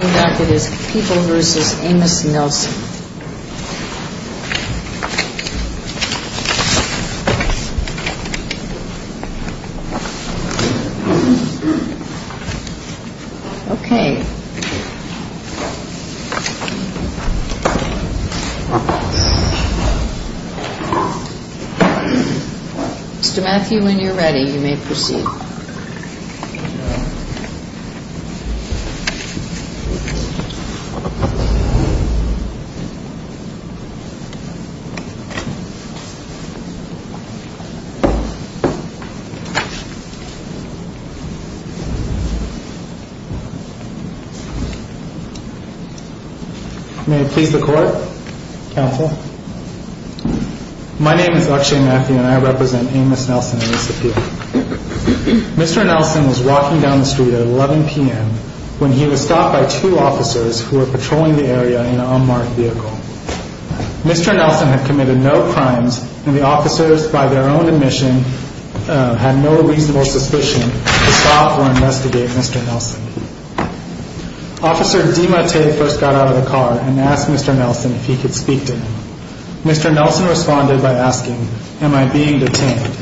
Okay. Mr. Matthew, when you're ready, you may proceed. May I please the court, counsel? My name is Akshay Matthew and I represent Amos Nelson Mr. Nelson was walking down the street at 11 p.m. when he was stopped by two officers who were patrolling the area in an unmarked vehicle. Mr. Nelson had committed no crimes and the officers, by their own admission, had no reasonable suspicion to stop or investigate Mr. Nelson. Officer DiMattei first got out of the car and asked Mr. Nelson if he could speak to him. Mr. Nelson responded by asking, Am I being detained?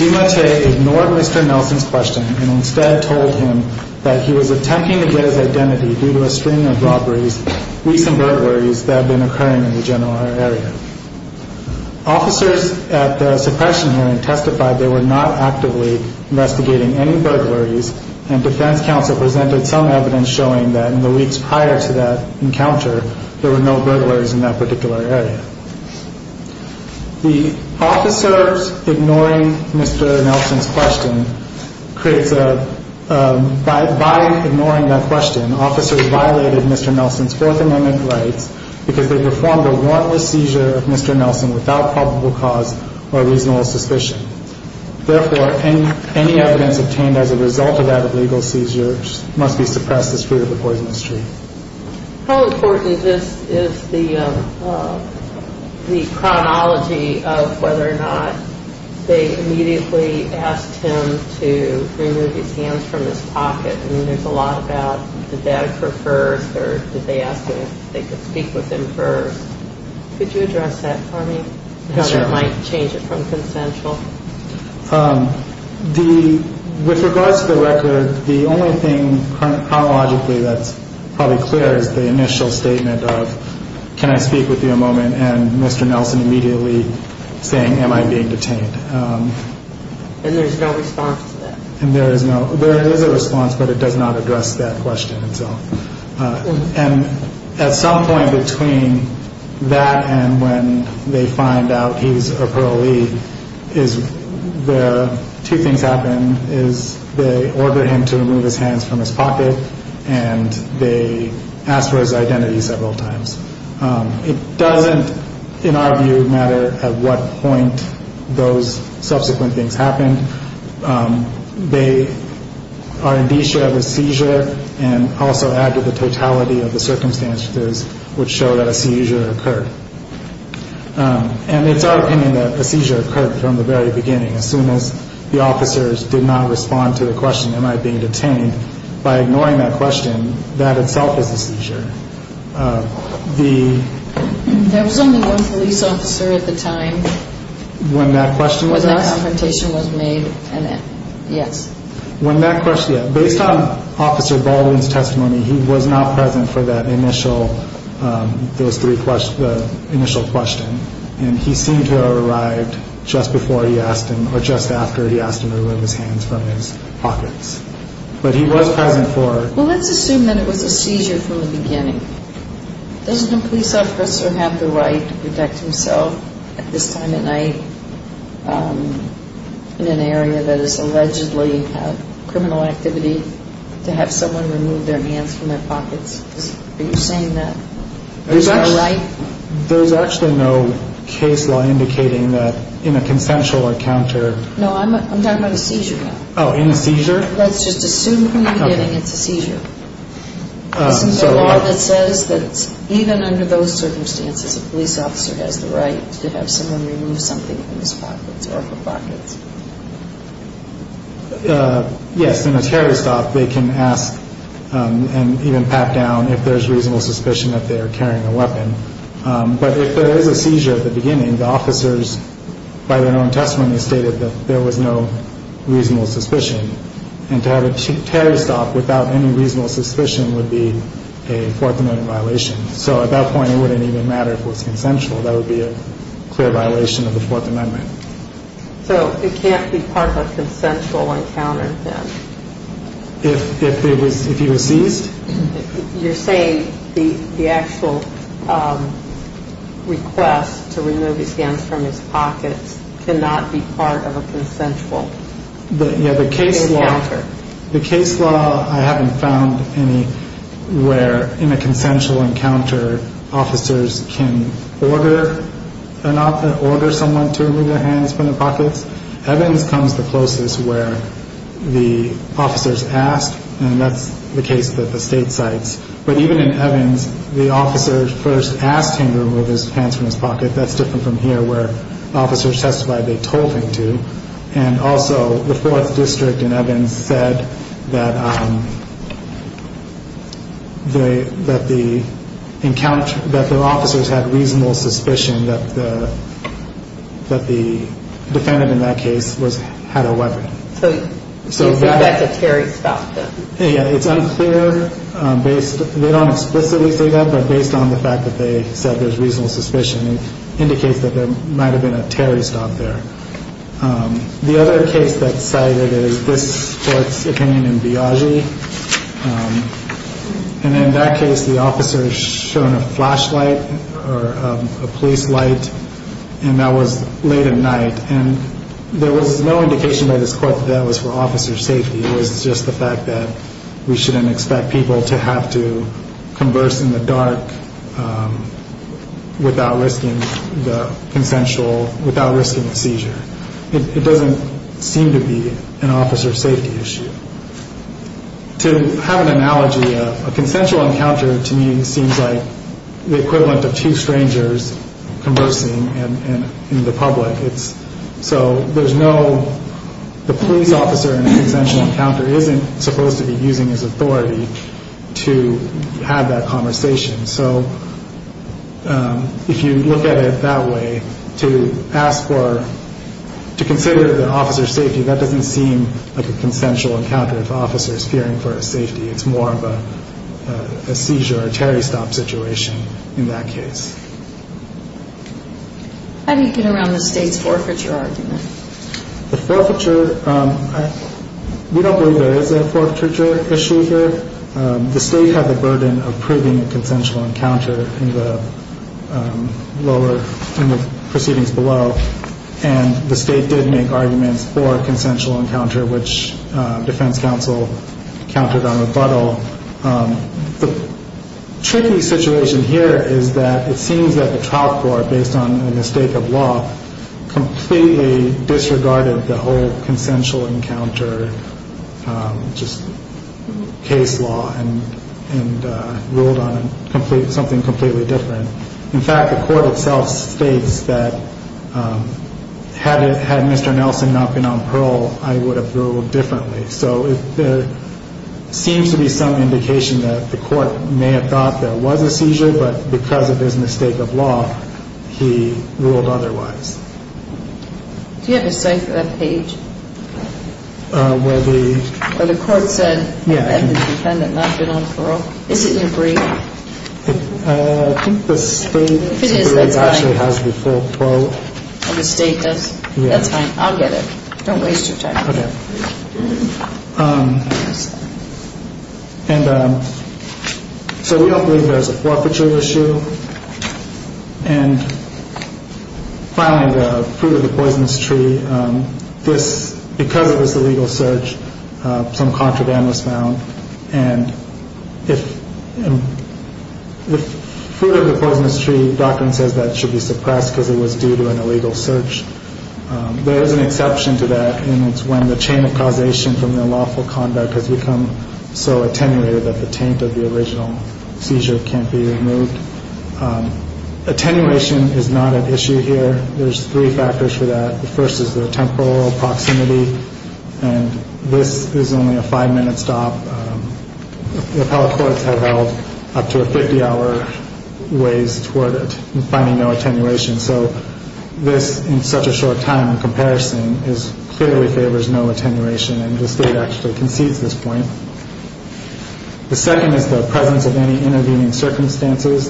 DiMattei ignored Mr. Nelson's question and instead told him that he was attempting to get his identity due to a string of robberies, recent burglaries that have been occurring in the general area. Officers at the suppression hearing testified they were not actively investigating any burglaries and defense counsel presented some evidence showing that in the weeks prior to that encounter, there were no burglaries in that particular area. The officers ignoring Mr. Nelson's question creates a, by ignoring that question, officers violated Mr. Nelson's Fourth Amendment rights because they performed a warrantless seizure of Mr. Nelson without probable cause or reasonable suspicion. Therefore, any evidence obtained as a result of that illegal seizure must be suppressed as free of the Poisonous Tree. How important is the chronology of whether or not they immediately asked him to remove his hands from his pocket? I mean, there's a lot about did dad prefer it first or did they ask him if they could speak with him first? Could you address that for me? How that might change it from consensual? With regards to the record, the only thing chronologically that's probably clear is the initial statement of can I speak with you a moment and Mr. And there is no, there is a response but it does not address that question itself. And at some point between that and when they find out he's a parolee is the two things happen is they order him to remove his hands from his pocket and they ask for his identity several times. It doesn't, in our view, matter at what point those subsequent things happen. They are in the issue of a seizure and also add to the totality of the circumstances which show that a seizure occurred. And it's our opinion that a seizure occurred from the very beginning. As soon as the officers did not respond to the question, am I being detained? By ignoring that question, that itself is a seizure. There was only one police officer at the time. When that question was asked? When that confrontation was made, yes. Based on Officer Baldwin's testimony, he was not present for that initial, those three questions, the initial question. And he seemed to have arrived just before he asked him or just after he asked him to remove his hands from his pockets. But he was present for... Well, let's assume that it was a seizure from the beginning. Doesn't a police officer have the right to protect himself at this time of night in an area that is allegedly a criminal activity to have someone remove their hands from their pockets? Are you saying that there's no right? There's actually no case law indicating that in a consensual encounter... No, I'm talking about a seizure. Oh, in a seizure? Let's just assume from the beginning it's a seizure. Isn't there law that says that even under those circumstances, a police officer has the right to have someone remove something from his pockets or her pockets? Yes. In a terror stop, they can ask and even pat down if there's reasonable suspicion that they are carrying a weapon. But if there is a seizure at the beginning, the officers, by their own testimony, stated that there was no reasonable suspicion. And to have a terror stop without any reasonable suspicion would be a Fourth Amendment violation. So at that point, it wouldn't even matter if it was consensual. That would be a clear violation of the Fourth Amendment. So it can't be part of a consensual encounter then? If he was seized? You're saying the actual request to remove his hands from his pockets cannot be part of a consensual encounter? The case law, I haven't found any where in a consensual encounter, officers can order someone to remove their hands from their pockets. Evans comes the closest where the officers ask, and that's the case that the state cites. But even in Evans, the officers first asked him to remove his hands from his pocket. That's different from here where officers testified they told him to. And also, the Fourth District in Evans said that the officers had reasonable suspicion that the defendant in that case had a weapon. So you say that's a terror stop? Yeah, it's unclear. They don't explicitly say that, but based on the fact that they said there's reasonable suspicion, it indicates that there might have been a terror stop there. The other case that's cited is this court's opinion in Biagi. And in that case, the officer is shown a flashlight or a police light, and that was late at night. And there was no indication by this court that that was for officer safety. It was just the fact that we shouldn't expect people to have to converse in the dark without risking the seizure. It doesn't seem to be an officer safety issue. To have an analogy, a consensual encounter to me seems like the equivalent of two strangers conversing in the public. So the police officer in a consensual encounter isn't supposed to be using his authority to have that conversation. So if you look at it that way, to ask for, to consider the officer's safety, that doesn't seem like a consensual encounter if the officer is fearing for his safety. It's more of a seizure, a terror stop situation in that case. How do you get around the state's forfeiture argument? The forfeiture, we don't believe there is a forfeiture issue here. The state had the burden of proving a consensual encounter in the proceedings below. And the state did make arguments for a consensual encounter, which defense counsel countered on rebuttal. The tricky situation here is that it seems that the trial court, based on a mistake of law, completely disregarded the whole consensual encounter case law and ruled on something completely different. In fact, the court itself states that had Mr. Nelson not been on parole, I would have ruled differently. So there seems to be some indication that the court may have thought there was a seizure, but because of his mistake of law, he ruled otherwise. Do you have a cipher page where the court said the defendant had not been on parole? Is it in your brief? I think the state actually has the full probe. The state does? That's fine. I'll get it. Don't waste your time. And so we don't believe there's a forfeiture issue. And finally, the fruit of the poisonous tree. Because of this illegal search, some contraband was found. And if the fruit of the poisonous tree doctrine says that it should be suppressed because it was due to an illegal search, there is an exception to that. And it's when the chain of causation from the lawful conduct has become so attenuated that the taint of the original seizure can't be removed. Attenuation is not an issue here. There's three factors for that. The first is the temporal proximity. And this is only a five minute stop. The appellate courts have held up to a 50 hour ways toward finding no attenuation. So this in such a short time in comparison is clearly favors no attenuation. And the state actually concedes this point. The second is the presence of any intervening circumstances.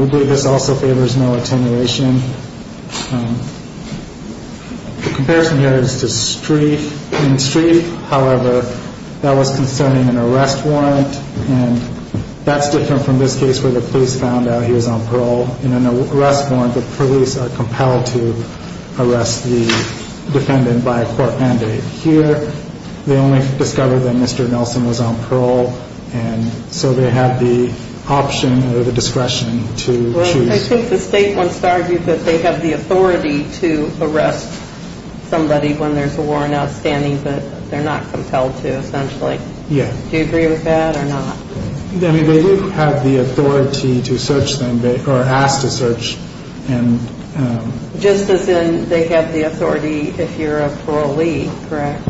We believe this also favors no attenuation. Comparison here is just three in three. However, that was concerning an arrest warrant. And that's different from this case where the police found out he was on parole in an arrest warrant. The police are compelled to arrest the defendant by a court mandate here. They only discovered that Mr. Nelson was on parole. And so they have the option or the discretion to choose. I think the state wants to argue that they have the authority to arrest somebody when there's a warrant outstanding. But they're not compelled to essentially. Yeah. Do you agree with that or not? I mean, they do have the authority to search them or asked to search. Just as in they have the authority if you're a parolee. Correct.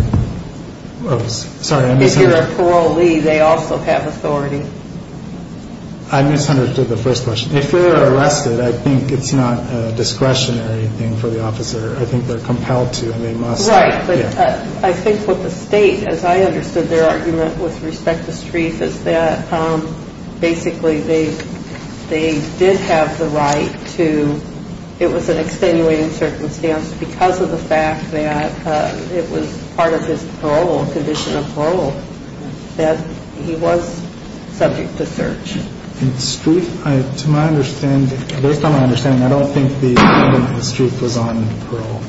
Sorry. If you're a parolee, they also have authority. I misunderstood the first question. If they're arrested, I think it's not a discretionary thing for the officer. I think they're compelled to and they must. Right. But I think what the state, as I understood their argument with respect to streets, is that basically they did have the right to. It was an extenuating circumstance because of the fact that it was part of his parole, condition of parole, that he was subject to search. In street, to my understanding, based on my understanding, I don't think the street was on parole.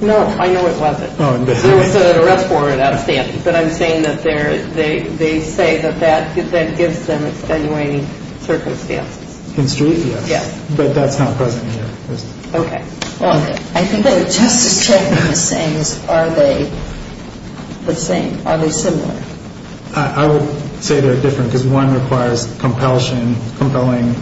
No, I know it wasn't. There was an arrest warrant outstanding. But I'm saying that they say that that gives them extenuating circumstances. In street, yes. But that's not present here. Okay. I think they're just checking the sayings. Are they the same? Are they similar? I would say they're different because one requires compulsion, compelling.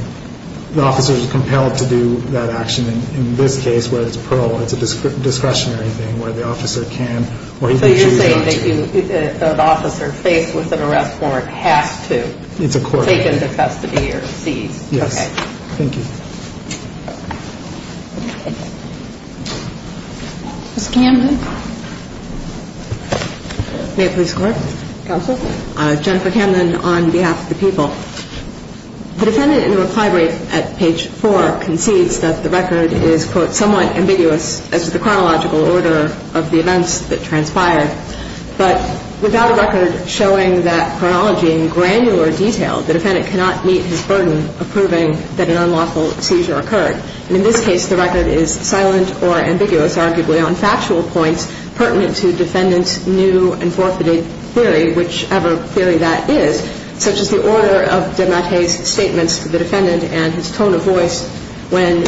The officer is compelled to do that action. In this case where it's parole, it's a discretionary thing where the officer can or he can choose not to. So you're saying that an officer faced with an arrest warrant has to take into custody or seize. Yes. Thank you. Ms. Camden. May it please the Court? Counsel. Jennifer Camden on behalf of the people. The defendant in the reply brief at page 4 concedes that the record is, quote, somewhat ambiguous as to the chronological order of the events that transpired. But without a record showing that chronology in granular detail, the defendant cannot meet his burden of proving that an unlawful seizure occurred. And in this case, the record is silent or ambiguous, arguably on factual points pertinent to defendant's new and forfeited theory, whichever theory that is, such as the order of DeMattei's statements to the defendant and his tone of voice when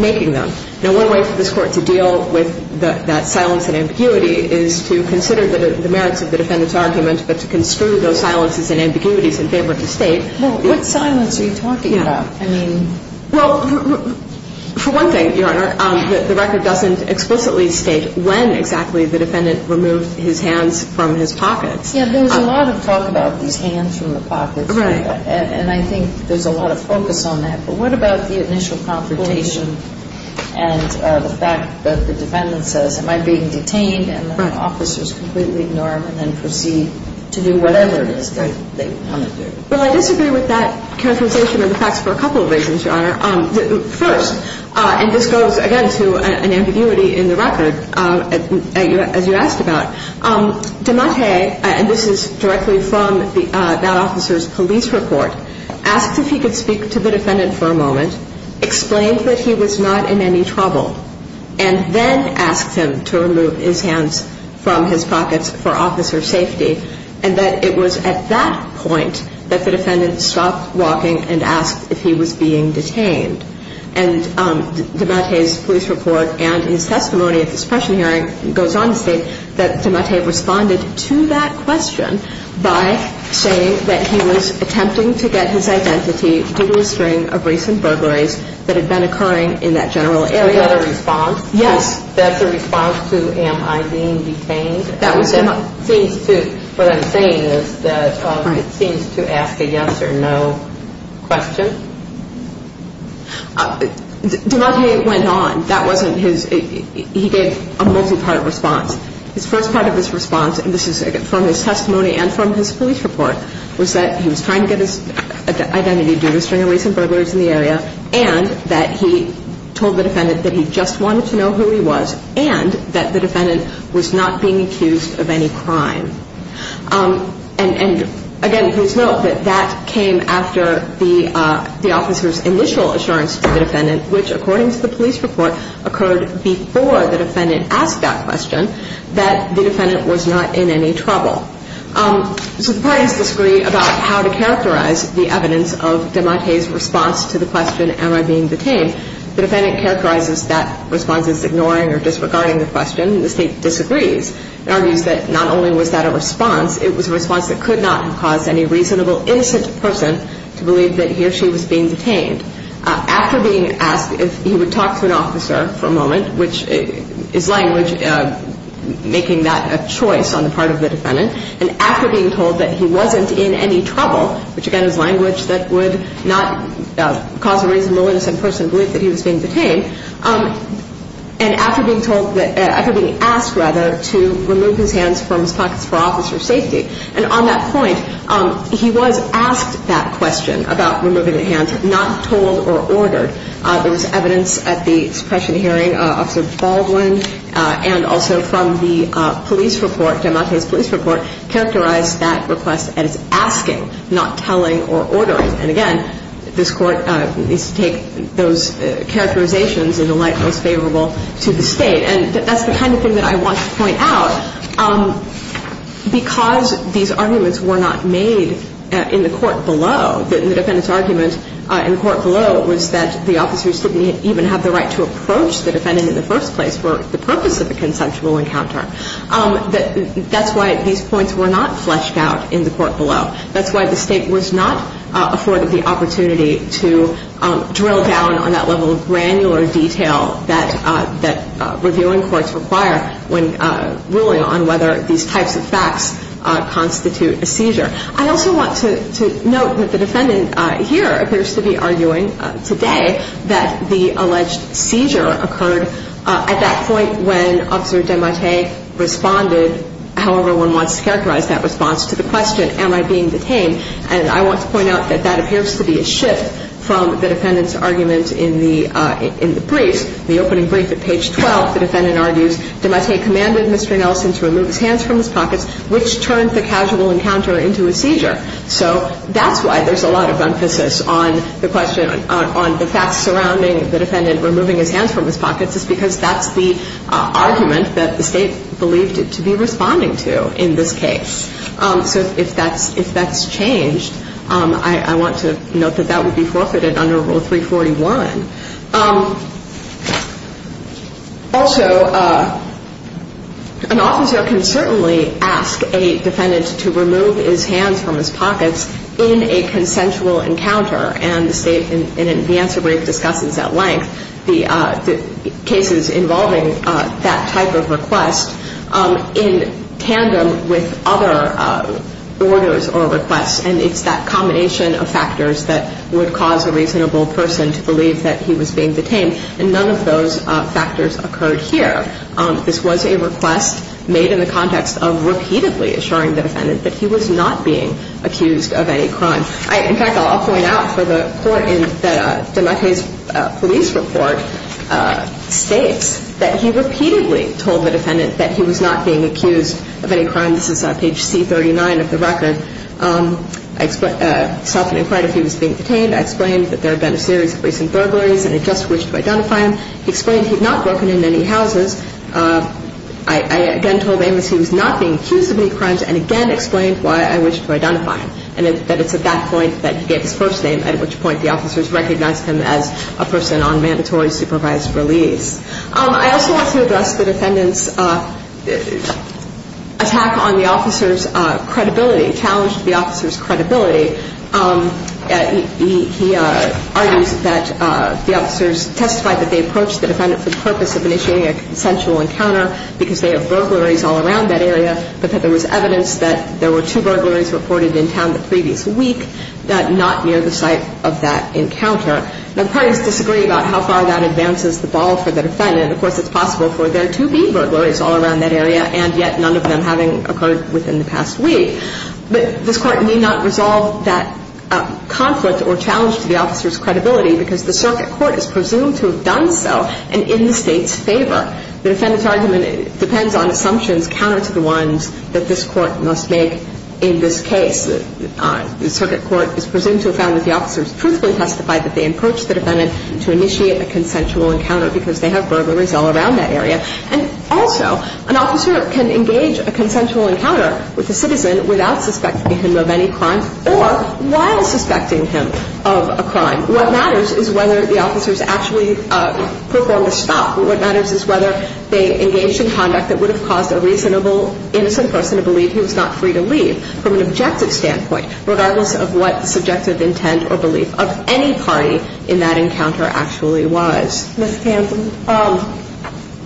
making them. Now, one way for this Court to deal with that silence and ambiguity is to consider the merits of the defendant's argument, but to construe those silences and ambiguities in favor of the State. Well, what silence are you talking about? Yeah. I mean. Well, for one thing, Your Honor, the record doesn't explicitly state when exactly the defendant removed his hands from his pockets. Yeah. There's a lot of talk about these hands from the pockets. Right. And I think there's a lot of focus on that. But what about the initial confrontation and the fact that the defendant says, am I being detained and the officers completely ignore him and then proceed to do whatever it is that they want to do? Well, I disagree with that characterization of the facts for a couple of reasons, Your Honor. First, and this goes, again, to an ambiguity in the record, as you asked about, DeMattei, and this is directly from that officer's police report, asks if he could speak to the defendant for a moment, explained that he was not in any trouble, and then asked him to remove his hands from his pockets for officer safety, and that it was at that point that the defendant stopped walking and asked if he was being detained. And DeMattei's police report and his testimony at this pressure hearing goes on to state that DeMattei responded to that question by saying that he was attempting to get his identity due to a string of recent burglaries that had been occurring in that general area. So he got a response? Yes. That's a response to, am I being detained? That was DeMattei. That seems to, what I'm saying is that it seems to ask a yes or no question. DeMattei went on. That wasn't his, he gave a multi-part response. His first part of his response, and this is from his testimony and from his police report, was that he was trying to get his identity due to a string of recent burglaries in the area and that he told the defendant that he just wanted to know who he was and that the defendant was not being accused of any crime. And, again, please note that that came after the officer's initial assurance to the defendant, which, according to the police report, occurred before the defendant asked that question, that the defendant was not in any trouble. So the parties disagree about how to characterize the evidence of DeMattei's response to the question, am I being detained? The defendant characterizes that response as ignoring or disregarding the question, and the State disagrees and argues that not only was that a response, it was a response that could not have caused any reasonable, innocent person to believe that he or she was being detained. Which is language making that a choice on the part of the defendant. And after being told that he wasn't in any trouble, which, again, is language that would not cause a reasonable, innocent person to believe that he was being detained, and after being asked to remove his hands from his pockets for officer safety, and on that point he was asked that question about removing the hands, not told or ordered. There was evidence at the suppression hearing, Officer Baldwin, and also from the police report, DeMattei's police report, characterized that request as asking, not telling or ordering. And, again, this Court needs to take those characterizations in the light most favorable to the State. And that's the kind of thing that I want to point out. Because these arguments were not made in the court below, the defendant's argument in the court below was that the officers didn't even have the right to approach the defendant in the first place for the purpose of a consensual encounter. That's why these points were not fleshed out in the court below. That's why the State was not afforded the opportunity to drill down on that level of granular detail that reviewing courts require when ruling on whether these types of facts constitute a seizure. I also want to note that the defendant here appears to be arguing today that the alleged seizure occurred at that point when Officer DeMattei responded however one wants to characterize that response to the question, am I being detained? And I want to point out that that appears to be a shift from the defendant's argument in the briefs. In the opening brief at page 12, the defendant argues, DeMattei commanded Mr. Nelson to remove his hands from his pockets, which turned the casual encounter into a seizure. So that's why there's a lot of emphasis on the question, on the facts surrounding the defendant removing his hands from his pockets, is because that's the argument that the State believed it to be responding to in this case. So if that's changed, I want to note that that would be forfeited under Rule 341. Also, an officer can certainly ask a defendant to remove his hands from his pockets in a consensual encounter, and the answer brief discusses at length the cases involving that type of request in tandem with other orders or requests, and it's that combination of factors that would cause a reasonable person to believe that he was being detained, and none of those factors occurred here. This was a request made in the context of repeatedly assuring the defendant that he was not being accused of any crime. In fact, I'll point out for the court that DeMattei's police report states that he repeatedly told the defendant that he was not being accused of any crime. This is page C39 of the record. I self-inquired if he was being detained. I explained that there had been a series of recent burglaries, and I just wished to identify him. He explained he had not broken into any houses. I again told Amos he was not being accused of any crimes, and again explained why I wished to identify him, and that it's at that point that he gave his first name, at which point the officers recognized him as a person on mandatory supervised release. I also want to address the defendant's attack on the officer's credibility, challenged the officer's credibility. He argues that the officers testified that they approached the defendant for the purpose of initiating a consensual encounter because they have burglaries all around that area, but that there was evidence that there were two burglaries reported in town the previous week that not near the site of that encounter. Now, the parties disagree about how far that advances the ball for the defendant. Of course, it's possible for there to be burglaries all around that area, and yet none of them having occurred within the past week. But this Court need not resolve that conflict or challenge to the officer's credibility because the circuit court is presumed to have done so and in the State's favor. The defendant's argument depends on assumptions counter to the ones that this Court must make in this case. The circuit court is presumed to have found that the officers truthfully testified that they approached the defendant to initiate a consensual encounter because they have burglaries all around that area. And also, an officer can engage a consensual encounter with a citizen without suspecting him of any crime or while suspecting him of a crime. What matters is whether the officers actually performed a stop. What matters is whether they engaged in conduct that would have caused a reasonable, innocent person to believe he was not free to leave from an objective standpoint, regardless of what subjective intent or belief of any party in that encounter actually was. Ms. Campbell,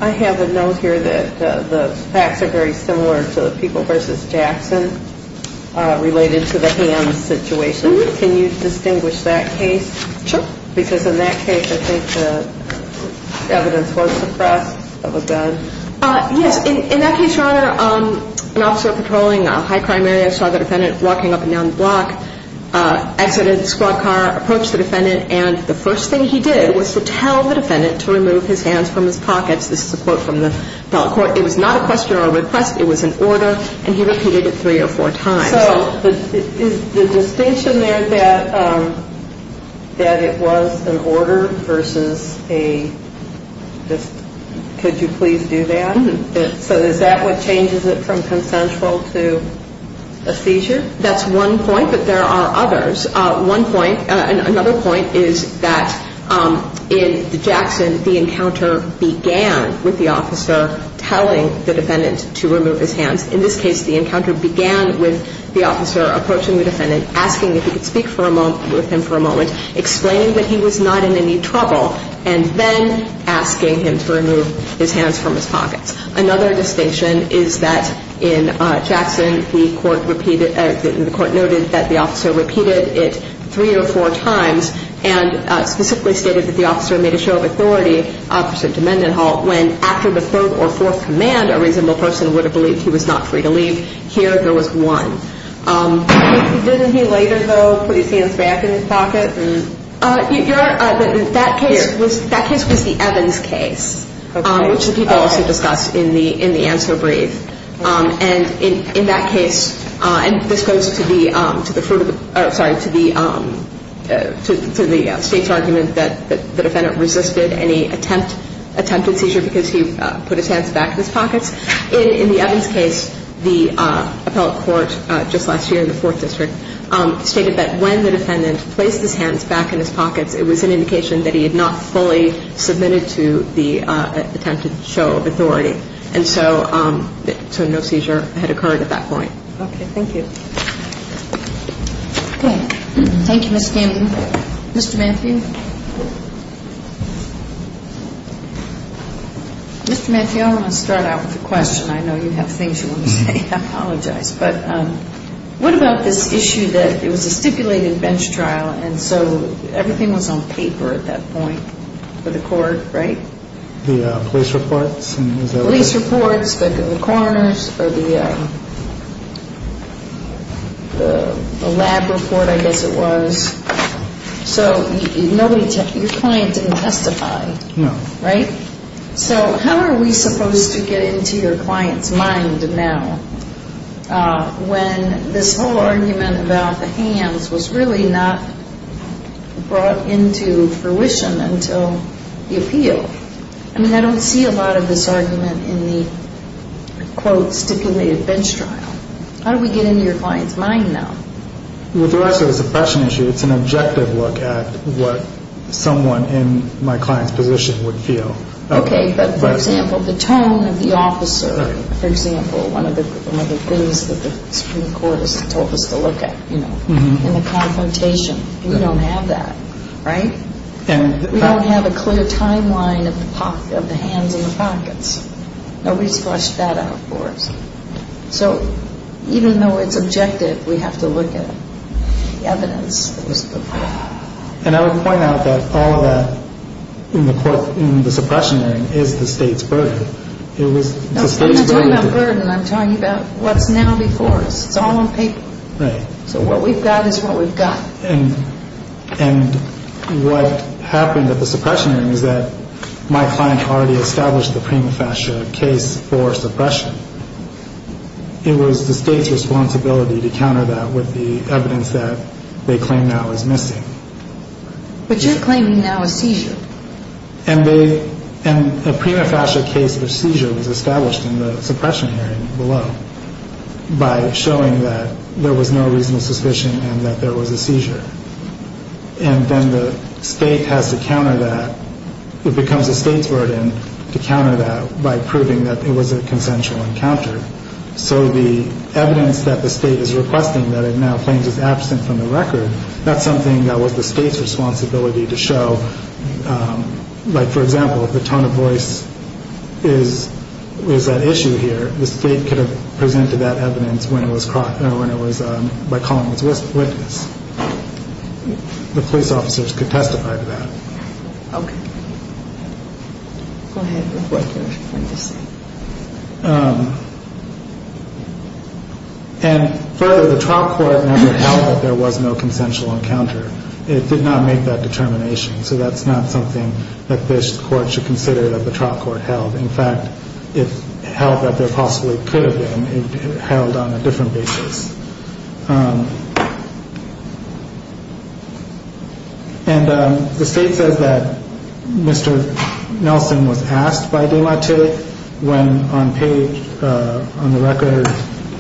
I have a note here that the facts are very similar to the People v. Jackson related to the hands situation. Can you distinguish that case? Sure. Because in that case, I think the evidence was suppressed of a gun. Yes. In that case, Your Honor, an officer patrolling a high crime area saw the defendant walking up and down the block, exited the squad car, approached the defendant, and the first thing he did was to tell the defendant to remove his hands from his pockets. This is a quote from the felon court. It was not a question or a request. It was an order, and he repeated it three or four times. So is the distinction there that it was an order versus a just could you please do that? So is that what changes it from consensual to a seizure? That's one point, but there are others. One point, another point is that in the Jackson, the encounter began with the officer telling the defendant to remove his hands. In this case, the encounter began with the officer approaching the defendant, asking if he could speak with him for a moment, explaining that he was not in any trouble, and then asking him to remove his hands from his pockets. Another distinction is that in Jackson, the court noted that the officer repeated it three or four times and specifically stated that the officer made a show of authority opposite to Mendenhall when after the third or fourth command, a reasonable person would have believed he was not free to leave. Here, there was one. Didn't he later, though, put his hands back in his pocket? That case was the Evans case, which the people also discussed in the answer brief. And in that case, and this goes to the state's argument that the defendant resisted any attempted seizure because he put his hands back in his pockets. In the Evans case, the appellate court just last year in the Fourth District stated that when the defendant placed his hands back in his pockets, it was an indication that he had not fully submitted to the attempted show of authority. And so no seizure had occurred at that point. Okay. Thank you. Thank you, Ms. Campbell. Mr. Mathew? Mr. Mathew, I want to start out with a question. I know you have things you want to say. I apologize. But what about this issue that it was a stipulated bench trial, and so everything was on paper at that point for the court, right? The police reports? The police reports, the coroner's, or the lab report, I guess it was. So your client didn't testify. No. Right? So how are we supposed to get into your client's mind now when this whole argument about the hands was really not brought into fruition until the appeal? I mean, I don't see a lot of this argument in the, quote, stipulated bench trial. How do we get into your client's mind now? Well, there actually is a suppression issue. It's an objective look at what someone in my client's position would feel. Okay, but, for example, the tone of the officer, for example, one of the things that the Supreme Court has told us to look at, you know, in the confrontation. We don't have that, right? We don't have a clear timeline of the hands in the pockets. Nobody's flushed that out for us. So even though it's objective, we have to look at the evidence. And I would point out that all of that in the suppression hearing is the State's burden. I'm not talking about burden. I'm talking about what's now before us. It's all on paper. Right. So what we've got is what we've got. And what happened at the suppression hearing is that my client already established the prima facie case for suppression. It was the State's responsibility to counter that with the evidence that they claim now is missing. But you're claiming now a seizure. And a prima facie case of seizure was established in the suppression hearing below by showing that there was no reasonable suspicion and that there was a seizure. And then the State has to counter that. It becomes the State's burden to counter that by proving that it was a consensual encounter. So the evidence that the State is requesting that it now claims is absent from the record, that's something that was the State's responsibility to show. Like, for example, if the tone of voice is at issue here, the State could have presented that evidence by calling its witness. The police officers could testify to that. Okay. Go ahead with what you're going to say. And further, the trial court never held that there was no consensual encounter. It did not make that determination. So that's not something that this court should consider that the trial court held. In fact, it held that there possibly could have been. It held on a different basis. And the State says that Mr. Nelson was asked by DeMattei when, on the record,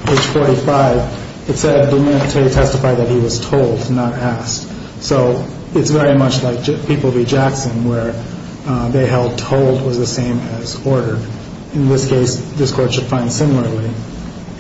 page 45, it said DeMattei testified that he was told, not asked. So it's very much like People v. Jackson, where they held told was the same as ordered. In this case, this court should find similarly.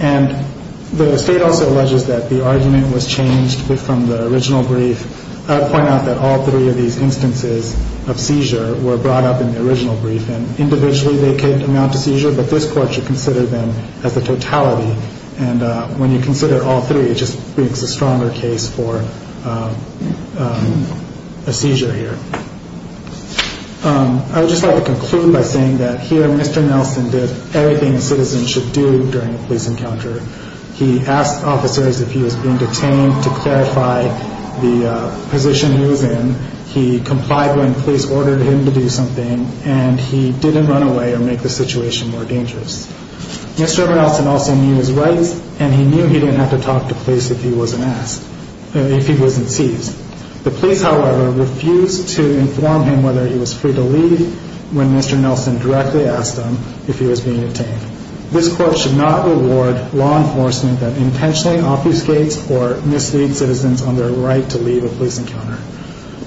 And the State also alleges that the argument was changed from the original brief. I would point out that all three of these instances of seizure were brought up in the original brief, and individually they could amount to seizure, but this court should consider them as a totality. And when you consider all three, it just brings a stronger case for a seizure here. I would just like to conclude by saying that here Mr. Nelson did everything a citizen should do during a police encounter. He asked officers if he was being detained to clarify the position he was in. He complied when police ordered him to do something, and he didn't run away or make the situation more dangerous. Mr. Nelson also knew his rights, and he knew he didn't have to talk to police if he wasn't asked, if he wasn't seized. The police, however, refused to inform him whether he was free to leave when Mr. Nelson directly asked him if he was being detained. This court should not award law enforcement that intentionally obfuscates or misleads citizens on their right to leave a police encounter.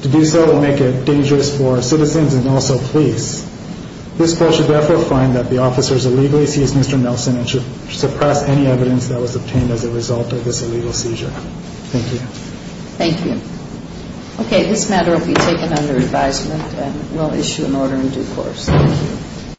To do so would make it dangerous for citizens and also police. This court should therefore find that the officers illegally seized Mr. Nelson and should suppress any evidence that was obtained as a result of this illegal seizure. Thank you. Thank you. Okay, this matter will be taken under advisement, and we'll issue an order in due course. Thank you.